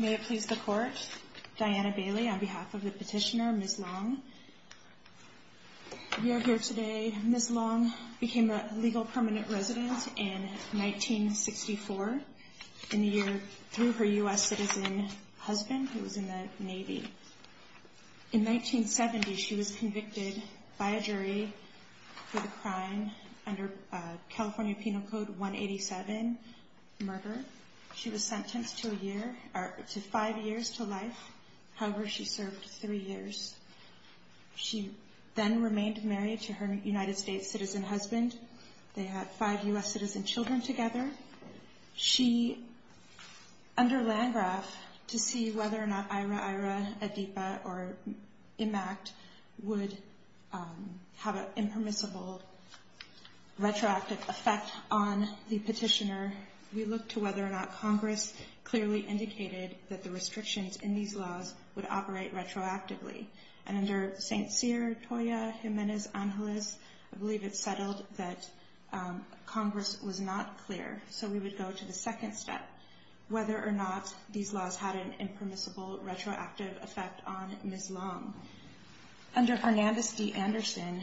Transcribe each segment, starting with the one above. May it please the court, Diana Bailey on behalf of the petitioner Ms. Long. We are here today, Ms. Long became a legal permanent resident in 1964 in the year through her U.S. citizen husband who was in the Navy. In 1970 she was convicted by a jury for the crime under California Penal Code 187, murder. She was sentenced to five years to life, however she served three years. She then remained married to her United States citizen husband. They had five U.S. citizen children together. She, under Landgraf, to see whether or not Ira-Ira, ADIPA or IMACT would have an impermissible retroactive effect on the petitioner we looked to whether or not Congress clearly indicated that the restrictions in these laws would operate retroactively. And under St. Cyr, Toya, Jimenez, Angeles, I believe it's settled that Congress was not clear. So we would go to the second step, whether or not these laws had an impermissible retroactive effect on Ms. Long. Under Hernandez v. Anderson,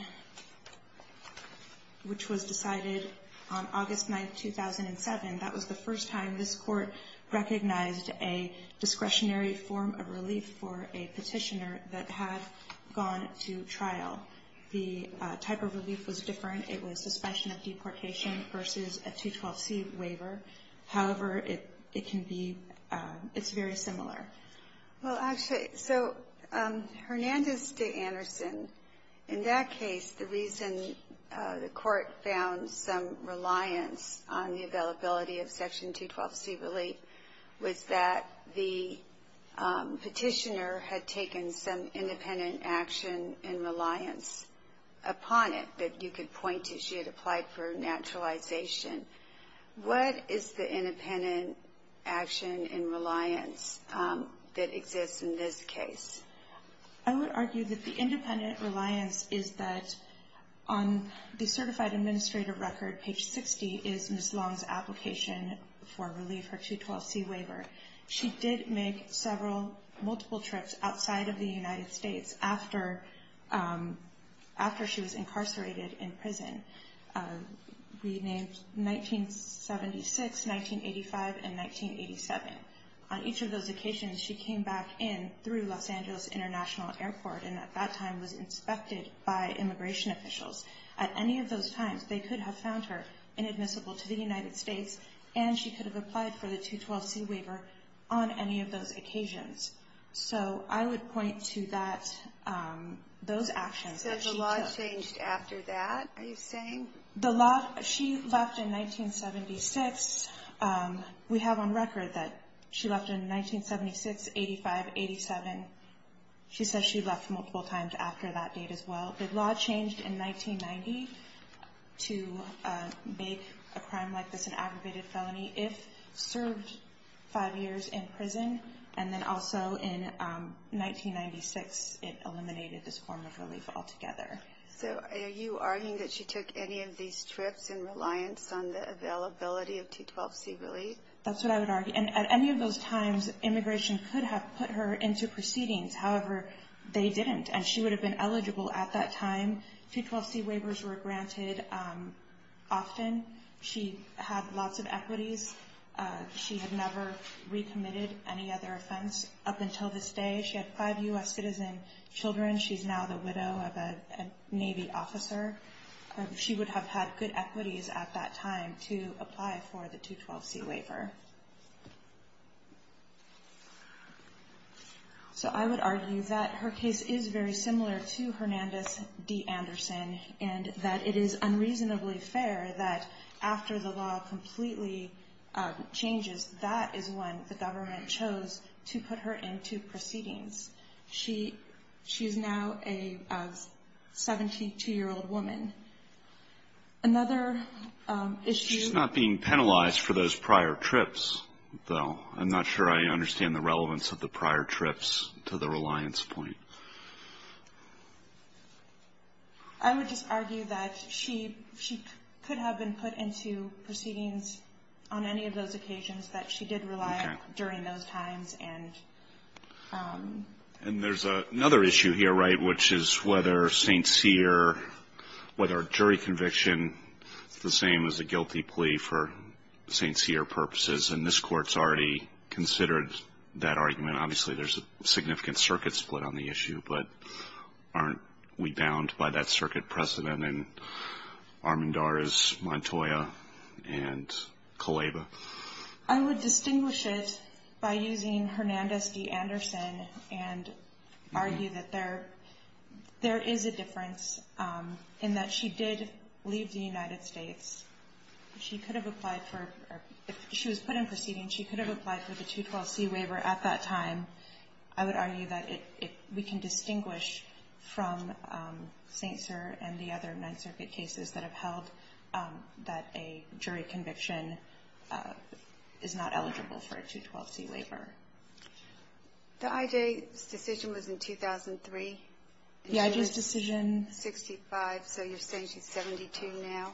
which was decided on August 9, 2007, that was the first time this Court recognized a discretionary form of relief for a petitioner that had gone to trial. The type of relief was different. It was suspension of deportation versus a 212C waiver. However, it can be, it's very similar. Well, actually, so Hernandez v. Anderson, in that case, the reason the Court found some reliance on the availability of Section 212C relief was that the petitioner had taken some independent action in reliance upon it that you could point to. She had applied for naturalization. What is the independent action in reliance that exists in this case? I would argue that the independent reliance is that on the certified administrative record, page 60, is Ms. Long's application for relief, her 212C waiver. She did make several, multiple trips outside of the United States after she was incarcerated in prison. We named 1976, 1985, and 1987. On each of those occasions, she came back in through Los Angeles International Airport and at that time was inspected by immigration officials. At any of those times, they could have found her inadmissible to the United States, and she could have applied for the 212C waiver on any of those occasions. So I would point to that, those actions that she took. The law changed after that, are you saying? The law, she left in 1976. We have on record that she left in 1976, 1985, 1987. She says she left multiple times after that date as well. The law changed in 1990 to make a crime like this an aggravated felony if served five years in prison. And then also in 1996, it eliminated this form of relief altogether. So are you arguing that she took any of these trips in reliance on the availability of 212C relief? That's what I would argue. And at any of those times, immigration could have put her into proceedings. However, they didn't, and she would have been eligible at that time. 212C waivers were granted often. She had lots of equities. She had never recommitted any other offense up until this day. She had five U.S. citizen children. She's now the widow of a Navy officer. She would have had good equities at that time to apply for the 212C waiver. So I would argue that her case is very similar to Hernandez v. Anderson and that it is unreasonably fair that after the law completely changes, that is when the government chose to put her into proceedings. She is now a 72-year-old woman. Another issue ---- She's not being penalized for those prior trips, though. I'm not sure I understand the relevance of the prior trips to the reliance point. I would just argue that she could have been put into proceedings on any of those occasions, but she did rely during those times and ---- And there's another issue here, right, which is whether St. Cyr, whether a jury conviction is the same as a guilty plea for St. Cyr purposes. And this Court's already considered that argument. Obviously, there's a significant circuit split on the issue, but aren't we bound by that circuit precedent in Armendariz, Montoya, and Kaleva? I would distinguish it by using Hernandez v. Anderson and argue that there is a difference in that she did leave the United States. She could have applied for ---- I would argue that we can distinguish from St. Cyr and the other Ninth Circuit cases that have held that a jury conviction is not eligible for a 212c waiver. The I.J.'s decision was in 2003. The I.J.'s decision ---- 65, so you're saying she's 72 now,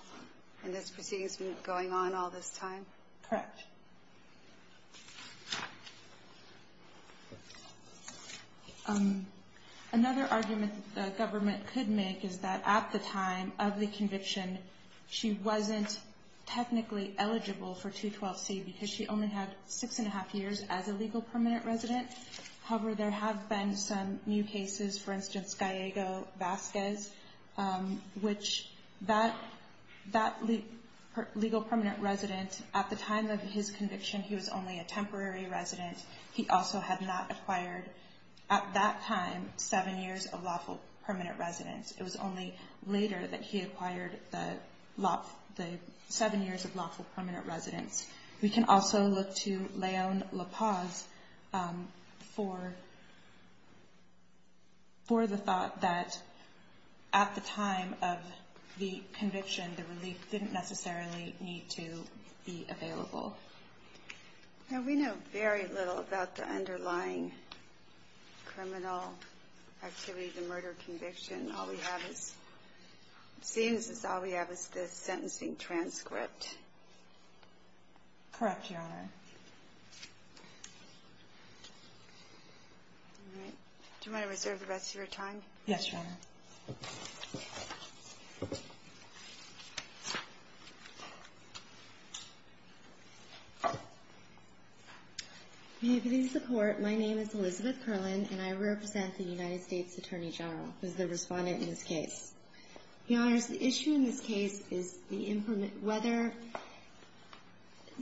and this proceeding's been going on all this time? Correct. Okay. Another argument the government could make is that at the time of the conviction, she wasn't technically eligible for 212c because she only had 6 1⁄2 years as a legal permanent resident. However, there have been some new cases, for instance, Gallego-Vasquez, which that legal permanent resident, at the time of his conviction, he was only a temporary resident. He also had not acquired, at that time, seven years of lawful permanent residence. It was only later that he acquired the seven years of lawful permanent residence. We can also look to Leon La Paz for the thought that at the time of the conviction, the relief didn't necessarily need to be available. We know very little about the underlying criminal activity, the murder conviction. All we have is the sentencing transcript. Correct, Your Honor. Do you want to reserve the rest of your time? Yes, Your Honor. May it please the Court, my name is Elizabeth Curlin, and I represent the United States Attorney General as the respondent in this case. Your Honors, the issue in this case is whether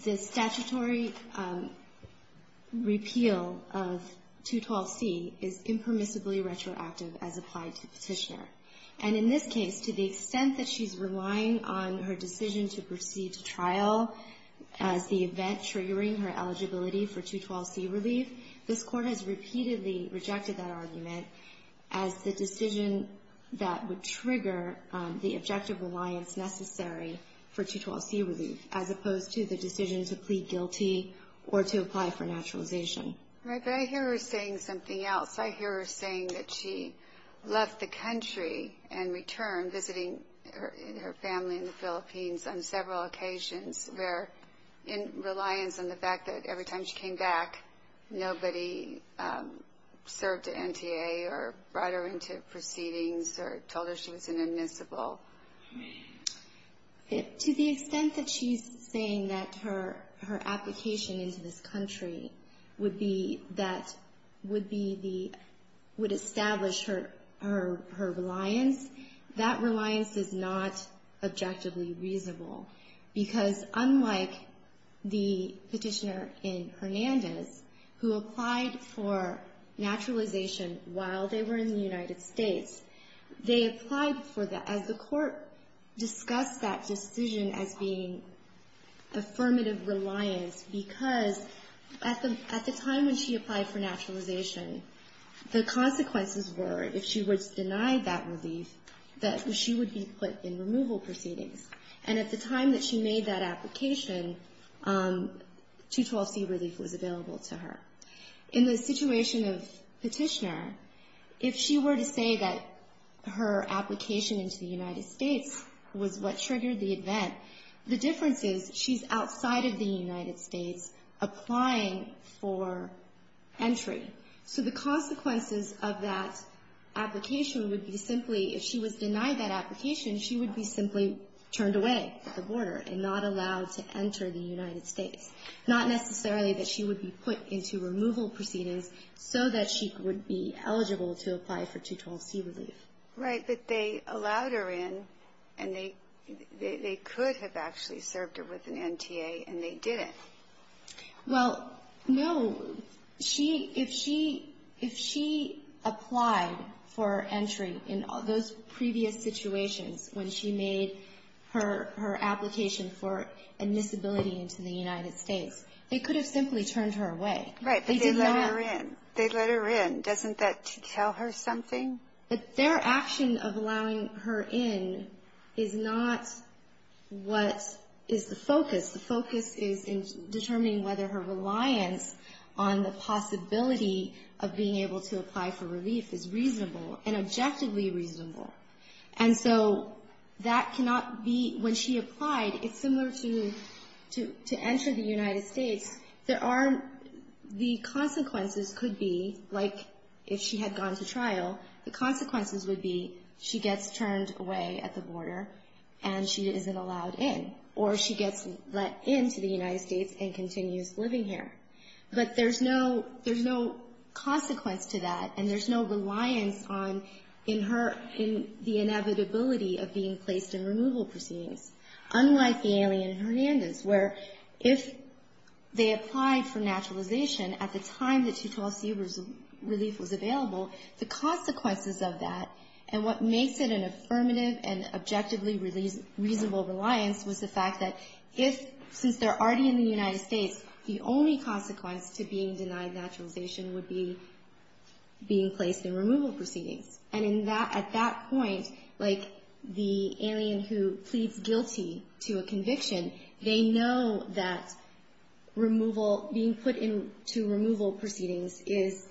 the statutory repeal of 212c is impermissibly retroactive as applied to the petitioner. And in this case, to the extent that she's relying on her decision to proceed to trial as the event triggering her eligibility for 212c relief, this Court has repeatedly rejected that argument as the decision that would trigger the objective reliance necessary for 212c relief, as opposed to the decision to plead guilty or to apply for naturalization. Right, but I hear her saying something else. I hear her saying that she left the country and returned, visiting her family in the Philippines on several occasions, where in reliance on the fact that every time she came back, nobody served at NTA or brought her into proceedings or told her she was an admissible. To the extent that she's saying that her application into this country would be that would be the, would establish her reliance, that reliance is not objectively reasonable. Because unlike the petitioner in Hernandez, who applied for naturalization while they were in the United States, they applied for the, as the Court of Appeals, the Court discussed that decision as being affirmative reliance, because at the time when she applied for naturalization, the consequences were, if she was denied that relief, that she would be put in removal proceedings. And at the time that she made that application, 212c relief was available to her. In the situation of petitioner, if she were to say that her application into the United States was what triggered the event, the difference is she's outside of the United States applying for entry. So the consequences of that application would be simply, if she was denied that application, she would be simply turned away at the border and not allowed to enter the United States. Not necessarily that she would be put into removal proceedings so that she would be eligible to apply for 212c relief. Right. But they allowed her in, and they, they could have actually served her with an NTA, and they didn't. Well, no. She, if she, if she applied for entry in those previous situations when she made her, her application for admissibility into the United States, she would have been denied that entry. They could have simply turned her away. Right. But they let her in. They let her in. Doesn't that tell her something? But their action of allowing her in is not what is the focus. The focus is in determining whether her reliance on the possibility of being able to apply for relief is reasonable, and objectively reasonable. And so that cannot be, when she applied, it's similar to, to enter the United States. There are, the consequences could be, like if she had gone to trial, the consequences would be she gets turned away at the border and she isn't allowed in. Or she gets let into the United States and continues living here. But there's no, there's no consequence to that, and there's no reliance on, in her, in the inevitability of being placed in removal proceedings. Unlike the alien in Hernandez, where if they applied for naturalization at the time that 212C relief was available, the consequences of that, and what makes it an affirmative and objectively reasonable reliance was the fact that if, since they're already in the United States, the only consequence to being denied naturalization would be being placed in removal proceedings. And in that, at that point, like the alien who pleads guilty to a conviction, they know that removal, being put into removal proceedings is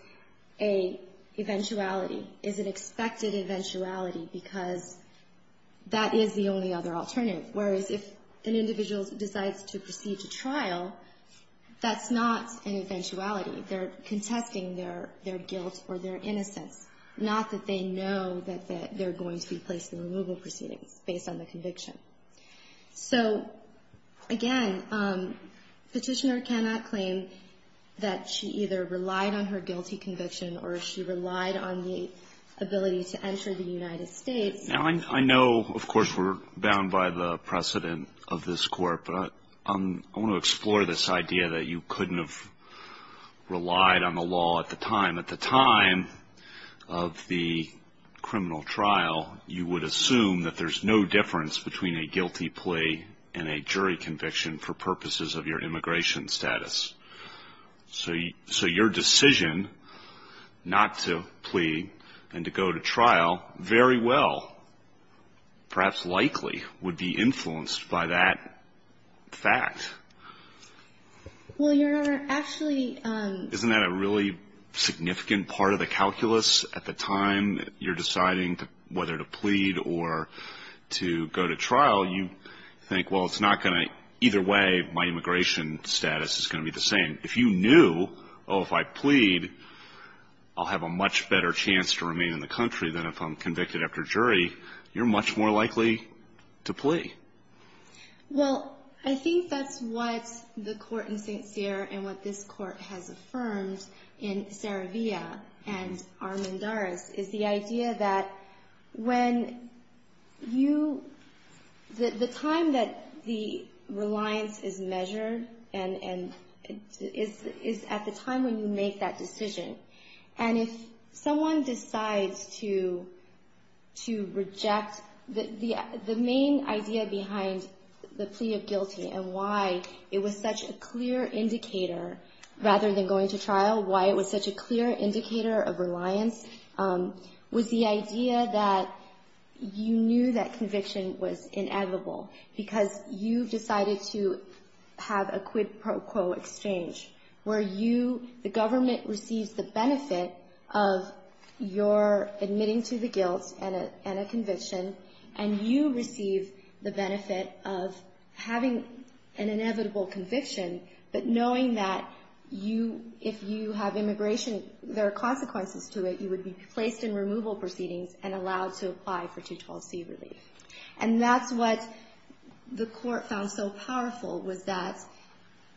a eventuality, is an expected eventuality, because that is the only other alternative. Whereas if an individual decides to proceed to trial, that's not an eventuality. They're contesting their guilt or their innocence, not that they know that they're going to be placed in removal proceedings based on the conviction. So, again, Petitioner cannot claim that she either relied on her guilty conviction or she relied on the ability to enter the United States. Now, I know, of course, we're bound by the precedent of this Court, but I want to explore this idea that you couldn't have relied on her guilty conviction. You couldn't have relied on the law at the time. At the time of the criminal trial, you would assume that there's no difference between a guilty plea and a jury conviction for purposes of your immigration status. So your decision not to plead and to go to trial very well, perhaps likely, would be influenced by that fact. Well, Your Honor, actually... Isn't that a really significant part of the calculus? At the time you're deciding whether to plead or to go to trial, you think, well, it's not going to, either way, my immigration status is going to be the same. If you knew, oh, if I plead, I'll have a much better chance to remain in the country than if I'm convicted after jury, you're much more likely to plea. Well, I think that's what the Court in St. Cyr and what this Court has affirmed in Saravia and Armendaris is the idea that when you... The time that the reliance is measured is at the time when you make that decision. And if someone decides to reject... The main idea behind the plea of guilty and why it was such a clear indicator, rather than going to trial, why it was such a clear indicator of reliance, was the idea that you knew that conviction was inevitable. Because you decided to have a quid pro quo exchange where you, the government, receives the benefit of your admitting to the guilt and a conviction, and then you go to trial. And you receive the benefit of having an inevitable conviction, but knowing that if you have immigration, there are consequences to it, you would be placed in removal proceedings and allowed to apply for 212C relief. And that's what the Court found so powerful, was that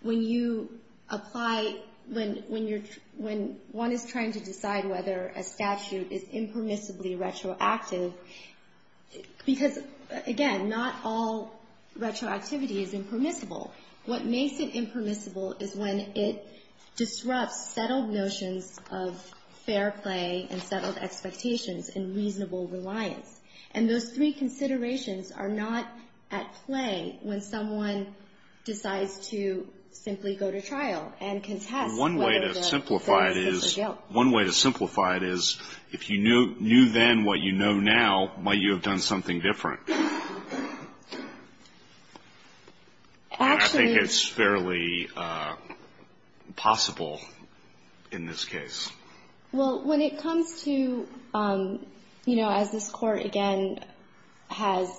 when you apply... When one is trying to decide whether a statute is impermissibly retroactive, before you can decide whether you're going to apply for 212C relief, you have to decide whether you're going to apply for 212C. Because, again, not all retroactivity is impermissible. What makes it impermissible is when it disrupts settled notions of fair play and settled expectations and reasonable reliance. And those three considerations are not at play when someone decides to simply go to trial and contest whether the offense is a guilt. One way to simplify it is, if you knew then what you know now, might you have done something different? And I think it's fairly possible in this case. Well, when it comes to, you know, as this Court, again, has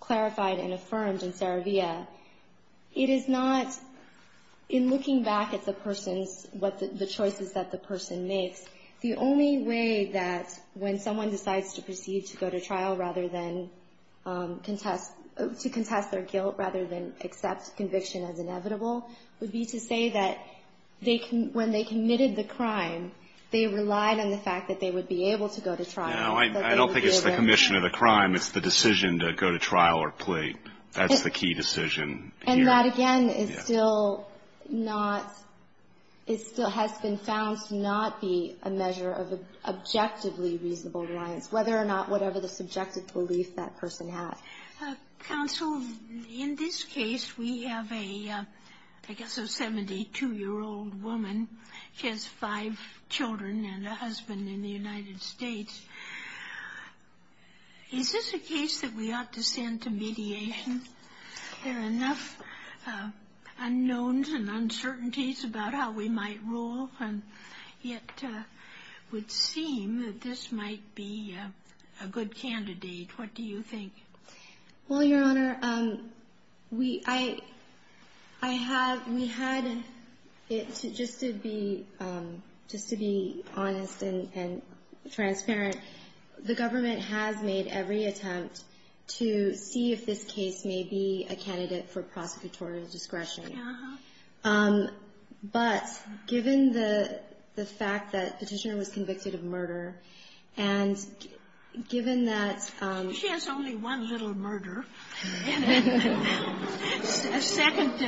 clarified and affirmed in Saravia, it is not, in looking back at the person's... what the choices that the person makes, the only way that when someone decides to proceed to go to trial rather than go to trial, is to go to trial. And to contest their guilt rather than accept conviction as inevitable, would be to say that when they committed the crime, they relied on the fact that they would be able to go to trial. No, I don't think it's the commission of the crime. It's the decision to go to trial or plead. That's the key decision here. And that, again, is still not... it still has been found to not be a measure of objectively reasonable reliance, whether or not whatever the subjective belief that the person has. Counsel, in this case, we have a, I guess a 72-year-old woman. She has five children and a husband in the United States. Is this a case that we ought to send to mediation? There are enough unknowns and uncertainties about how we might rule, and yet it would seem that this might be a good candidate. What do you think? Well, Your Honor, we had... just to be honest and transparent, the government has made every attempt to see if this case may be a candidate for prosecutorial discretion. But given the fact that the petitioner was convicted of murder, and given that... She has only one little murder. A second...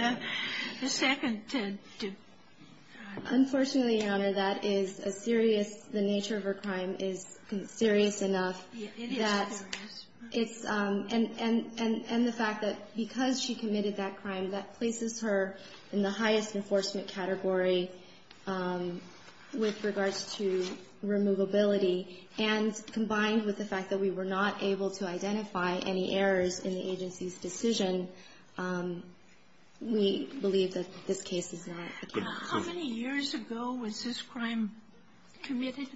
a second... Unfortunately, Your Honor, that is a serious... the nature of her crime is serious enough that it's... And the fact that because she committed that crime, that places her in the highest enforcement category with regards to removability. And combined with the fact that we were not able to identify any errors in the agency's decision, we believe that this case is not a candidate. How many years ago was this crime committed?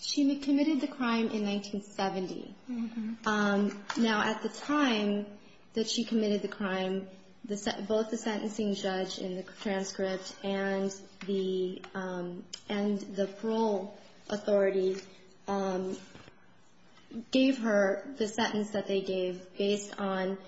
She committed the crime in 1970. Now, at the time that she committed the crime, both the sentencing judge in the transcript and the parole authority gave her the sentence that they gave based on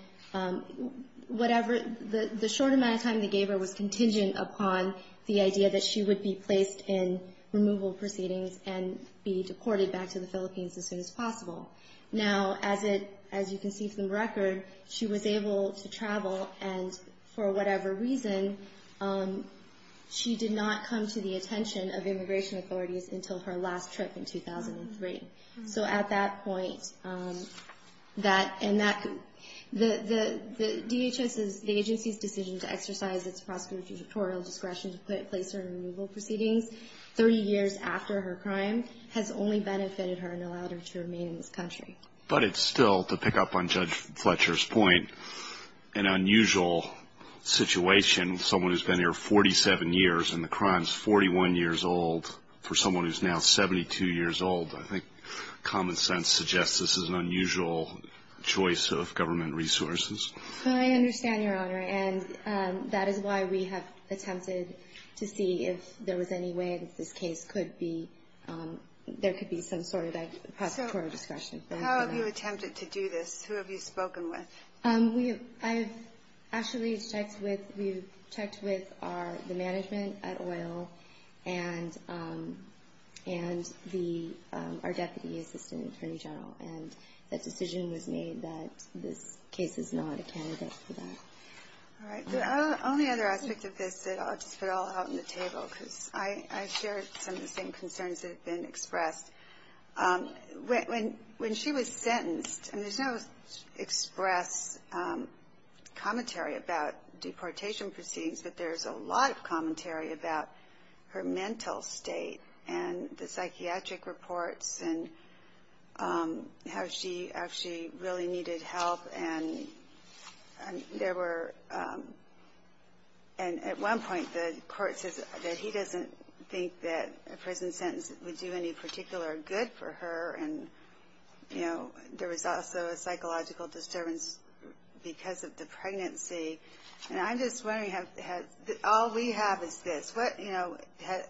whatever... The short amount of time they gave her was contingent upon the idea that she would be placed in removal proceedings and be deported back to the Philippines as soon as possible. Now, as you can see from the record, she was able to travel, and for whatever reason, she did not come to the attention of immigration authorities until her last trip in 2003. So at that point, that... and that... the DHS's... the agency's decision to exercise its prosecutorial discretion to put in place her removal proceedings 30 years after her crime has only benefited her and allowed her to remain in this country. But it's still, to pick up on Judge Fletcher's point, an unusual situation. Someone who's been here 47 years and the crime's 41 years old, for someone who's now 72 years old, I think common sense suggests this is an unusual choice of government resources. I understand, Your Honor, and that is why we have attempted to see if there was any way that this case could be... prosecutorial discretion. So how have you attempted to do this? Who have you spoken with? We have... I've actually checked with... we've checked with our... the management at OIL and the... our Deputy Assistant Attorney General. And the decision was made that this case is not a candidate for that. All right. The only other aspect of this that I'll just put all out on the table, because I shared some of the same concerns that have been expressed. When she was sentenced, and there's no express commentary about deportation proceedings, but there's a lot of commentary about her mental state and the psychiatric reports and how she actually really needed help. And there were... and at one point the court says that he doesn't think that a prison sentence would do any particular good for her. And, you know, there was also a psychological disturbance because of the pregnancy. And I'm just wondering, all we have is this.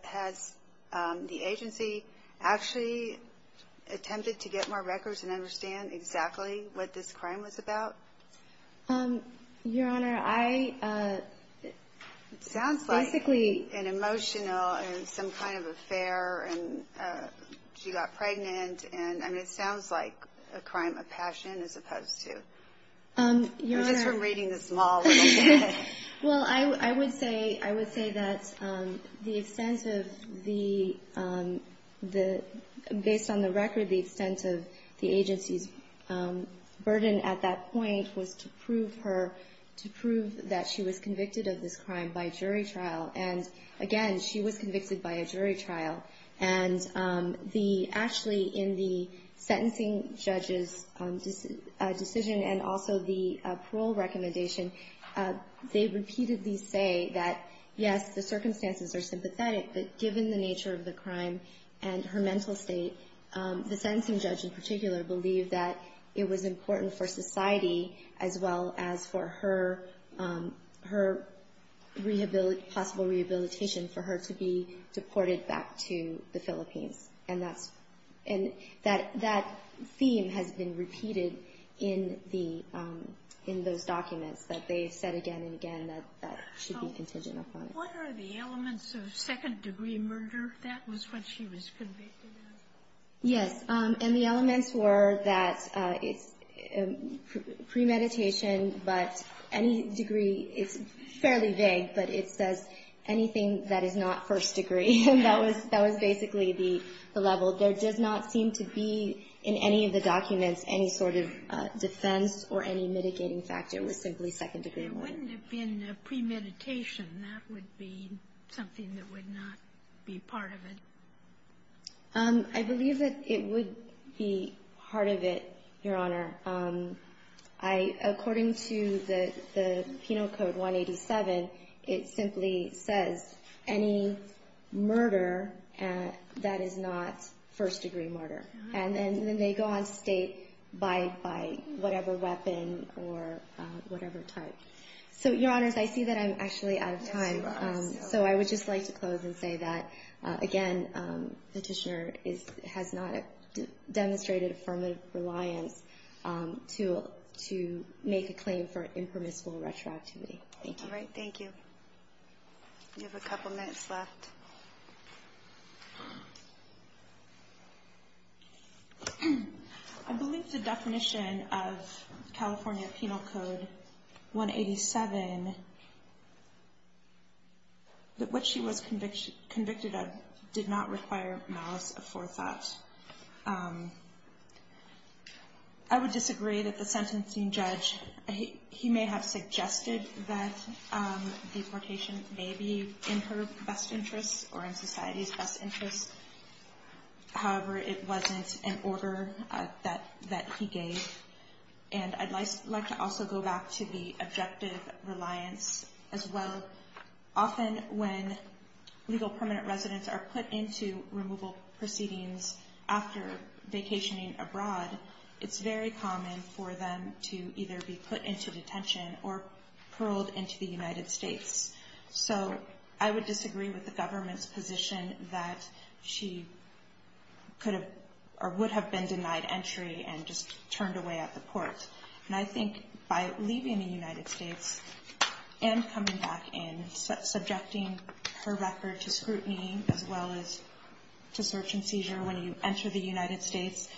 Has the agency actually attempted to get more records and understand exactly what this crime was about? Your Honor, I... It sounds like an emotional and some kind of affair and she got pregnant. And, I mean, it sounds like a crime of passion as opposed to... Your Honor... Well, I would say... I would say that the extent of the... based on the record, the extent of the agency's burden at that point was to prove her... to prove that she was convicted of this crime by jury trial. And, again, she was convicted by a jury trial. And the... actually, in the sentencing judge's decision and also the parole recommendation, they repeatedly say that, yes, the circumstances are sympathetic, but given the nature of the crime and her mental state, the sentencing judge in particular believed that it was important for society as well as for her possible rehabilitation for her to be deported back to the Philippines. And that theme has been repeated in those documents that they've said again and again that that should be contingent upon it. What are the elements of second degree murder that was when she was convicted of? Yes, and the elements were that it's premeditation, but any degree... it's fairly vague, but it says anything that is not first degree. And that was basically the level. There does not seem to be, in any of the documents, any sort of defense or any mitigating factor with simply second degree murder. There wouldn't have been premeditation. That would be something that would not be part of it. I believe that it would be part of it, Your Honor. According to the Penal Code 187, it simply says any murder that is not first degree murder. And then they go on to state by whatever weapon or whatever type. So, Your Honors, I see that I'm actually out of time. So I would just like to close and say that, again, Petitioner has not demonstrated affirmative reliance to make a claim for an impermissible retroactivity. Thank you. I believe the definition of California Penal Code 187, which she was convicted of, did not require malice of forethought. I would disagree that the sentencing judge, he may have suggested that deportation may be in her best interest or in society's best interest. However, it wasn't an order that he gave. And I'd like to also go back to the objective reliance as well. Often when legal permanent residents are put into removal proceedings after vacationing abroad, it's very common for them to either be put into detention or paroled into the United States. So I would disagree with the government's position that she would have been denied entry and just turned away at the court. And I think by leaving the United States and coming back in, subjecting her record to scrutiny as well as to search and seizure when you enter the United States,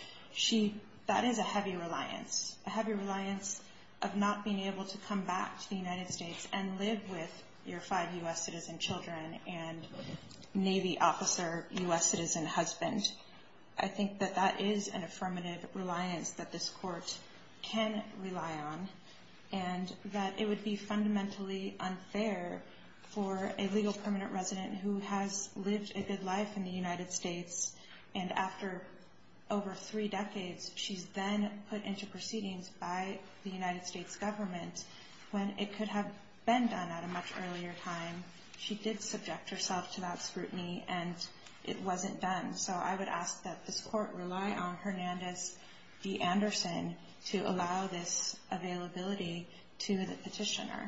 that is a heavy reliance. A heavy reliance of not being able to come back to the United States and live with your five U.S. citizen children and Navy officer, U.S. citizen husband. I think that that is an affirmative reliance that this court can rely on. And that it would be fundamentally unfair for a legal permanent resident who has lived a good life in the United States. And after over three decades, she's then put into proceedings by the United States government when it could have been done at a much earlier time. She did subject herself to that scrutiny and it wasn't done. So I would ask that this court rely on Hernandez D Anderson to allow this availability to the petitioner. Thank you.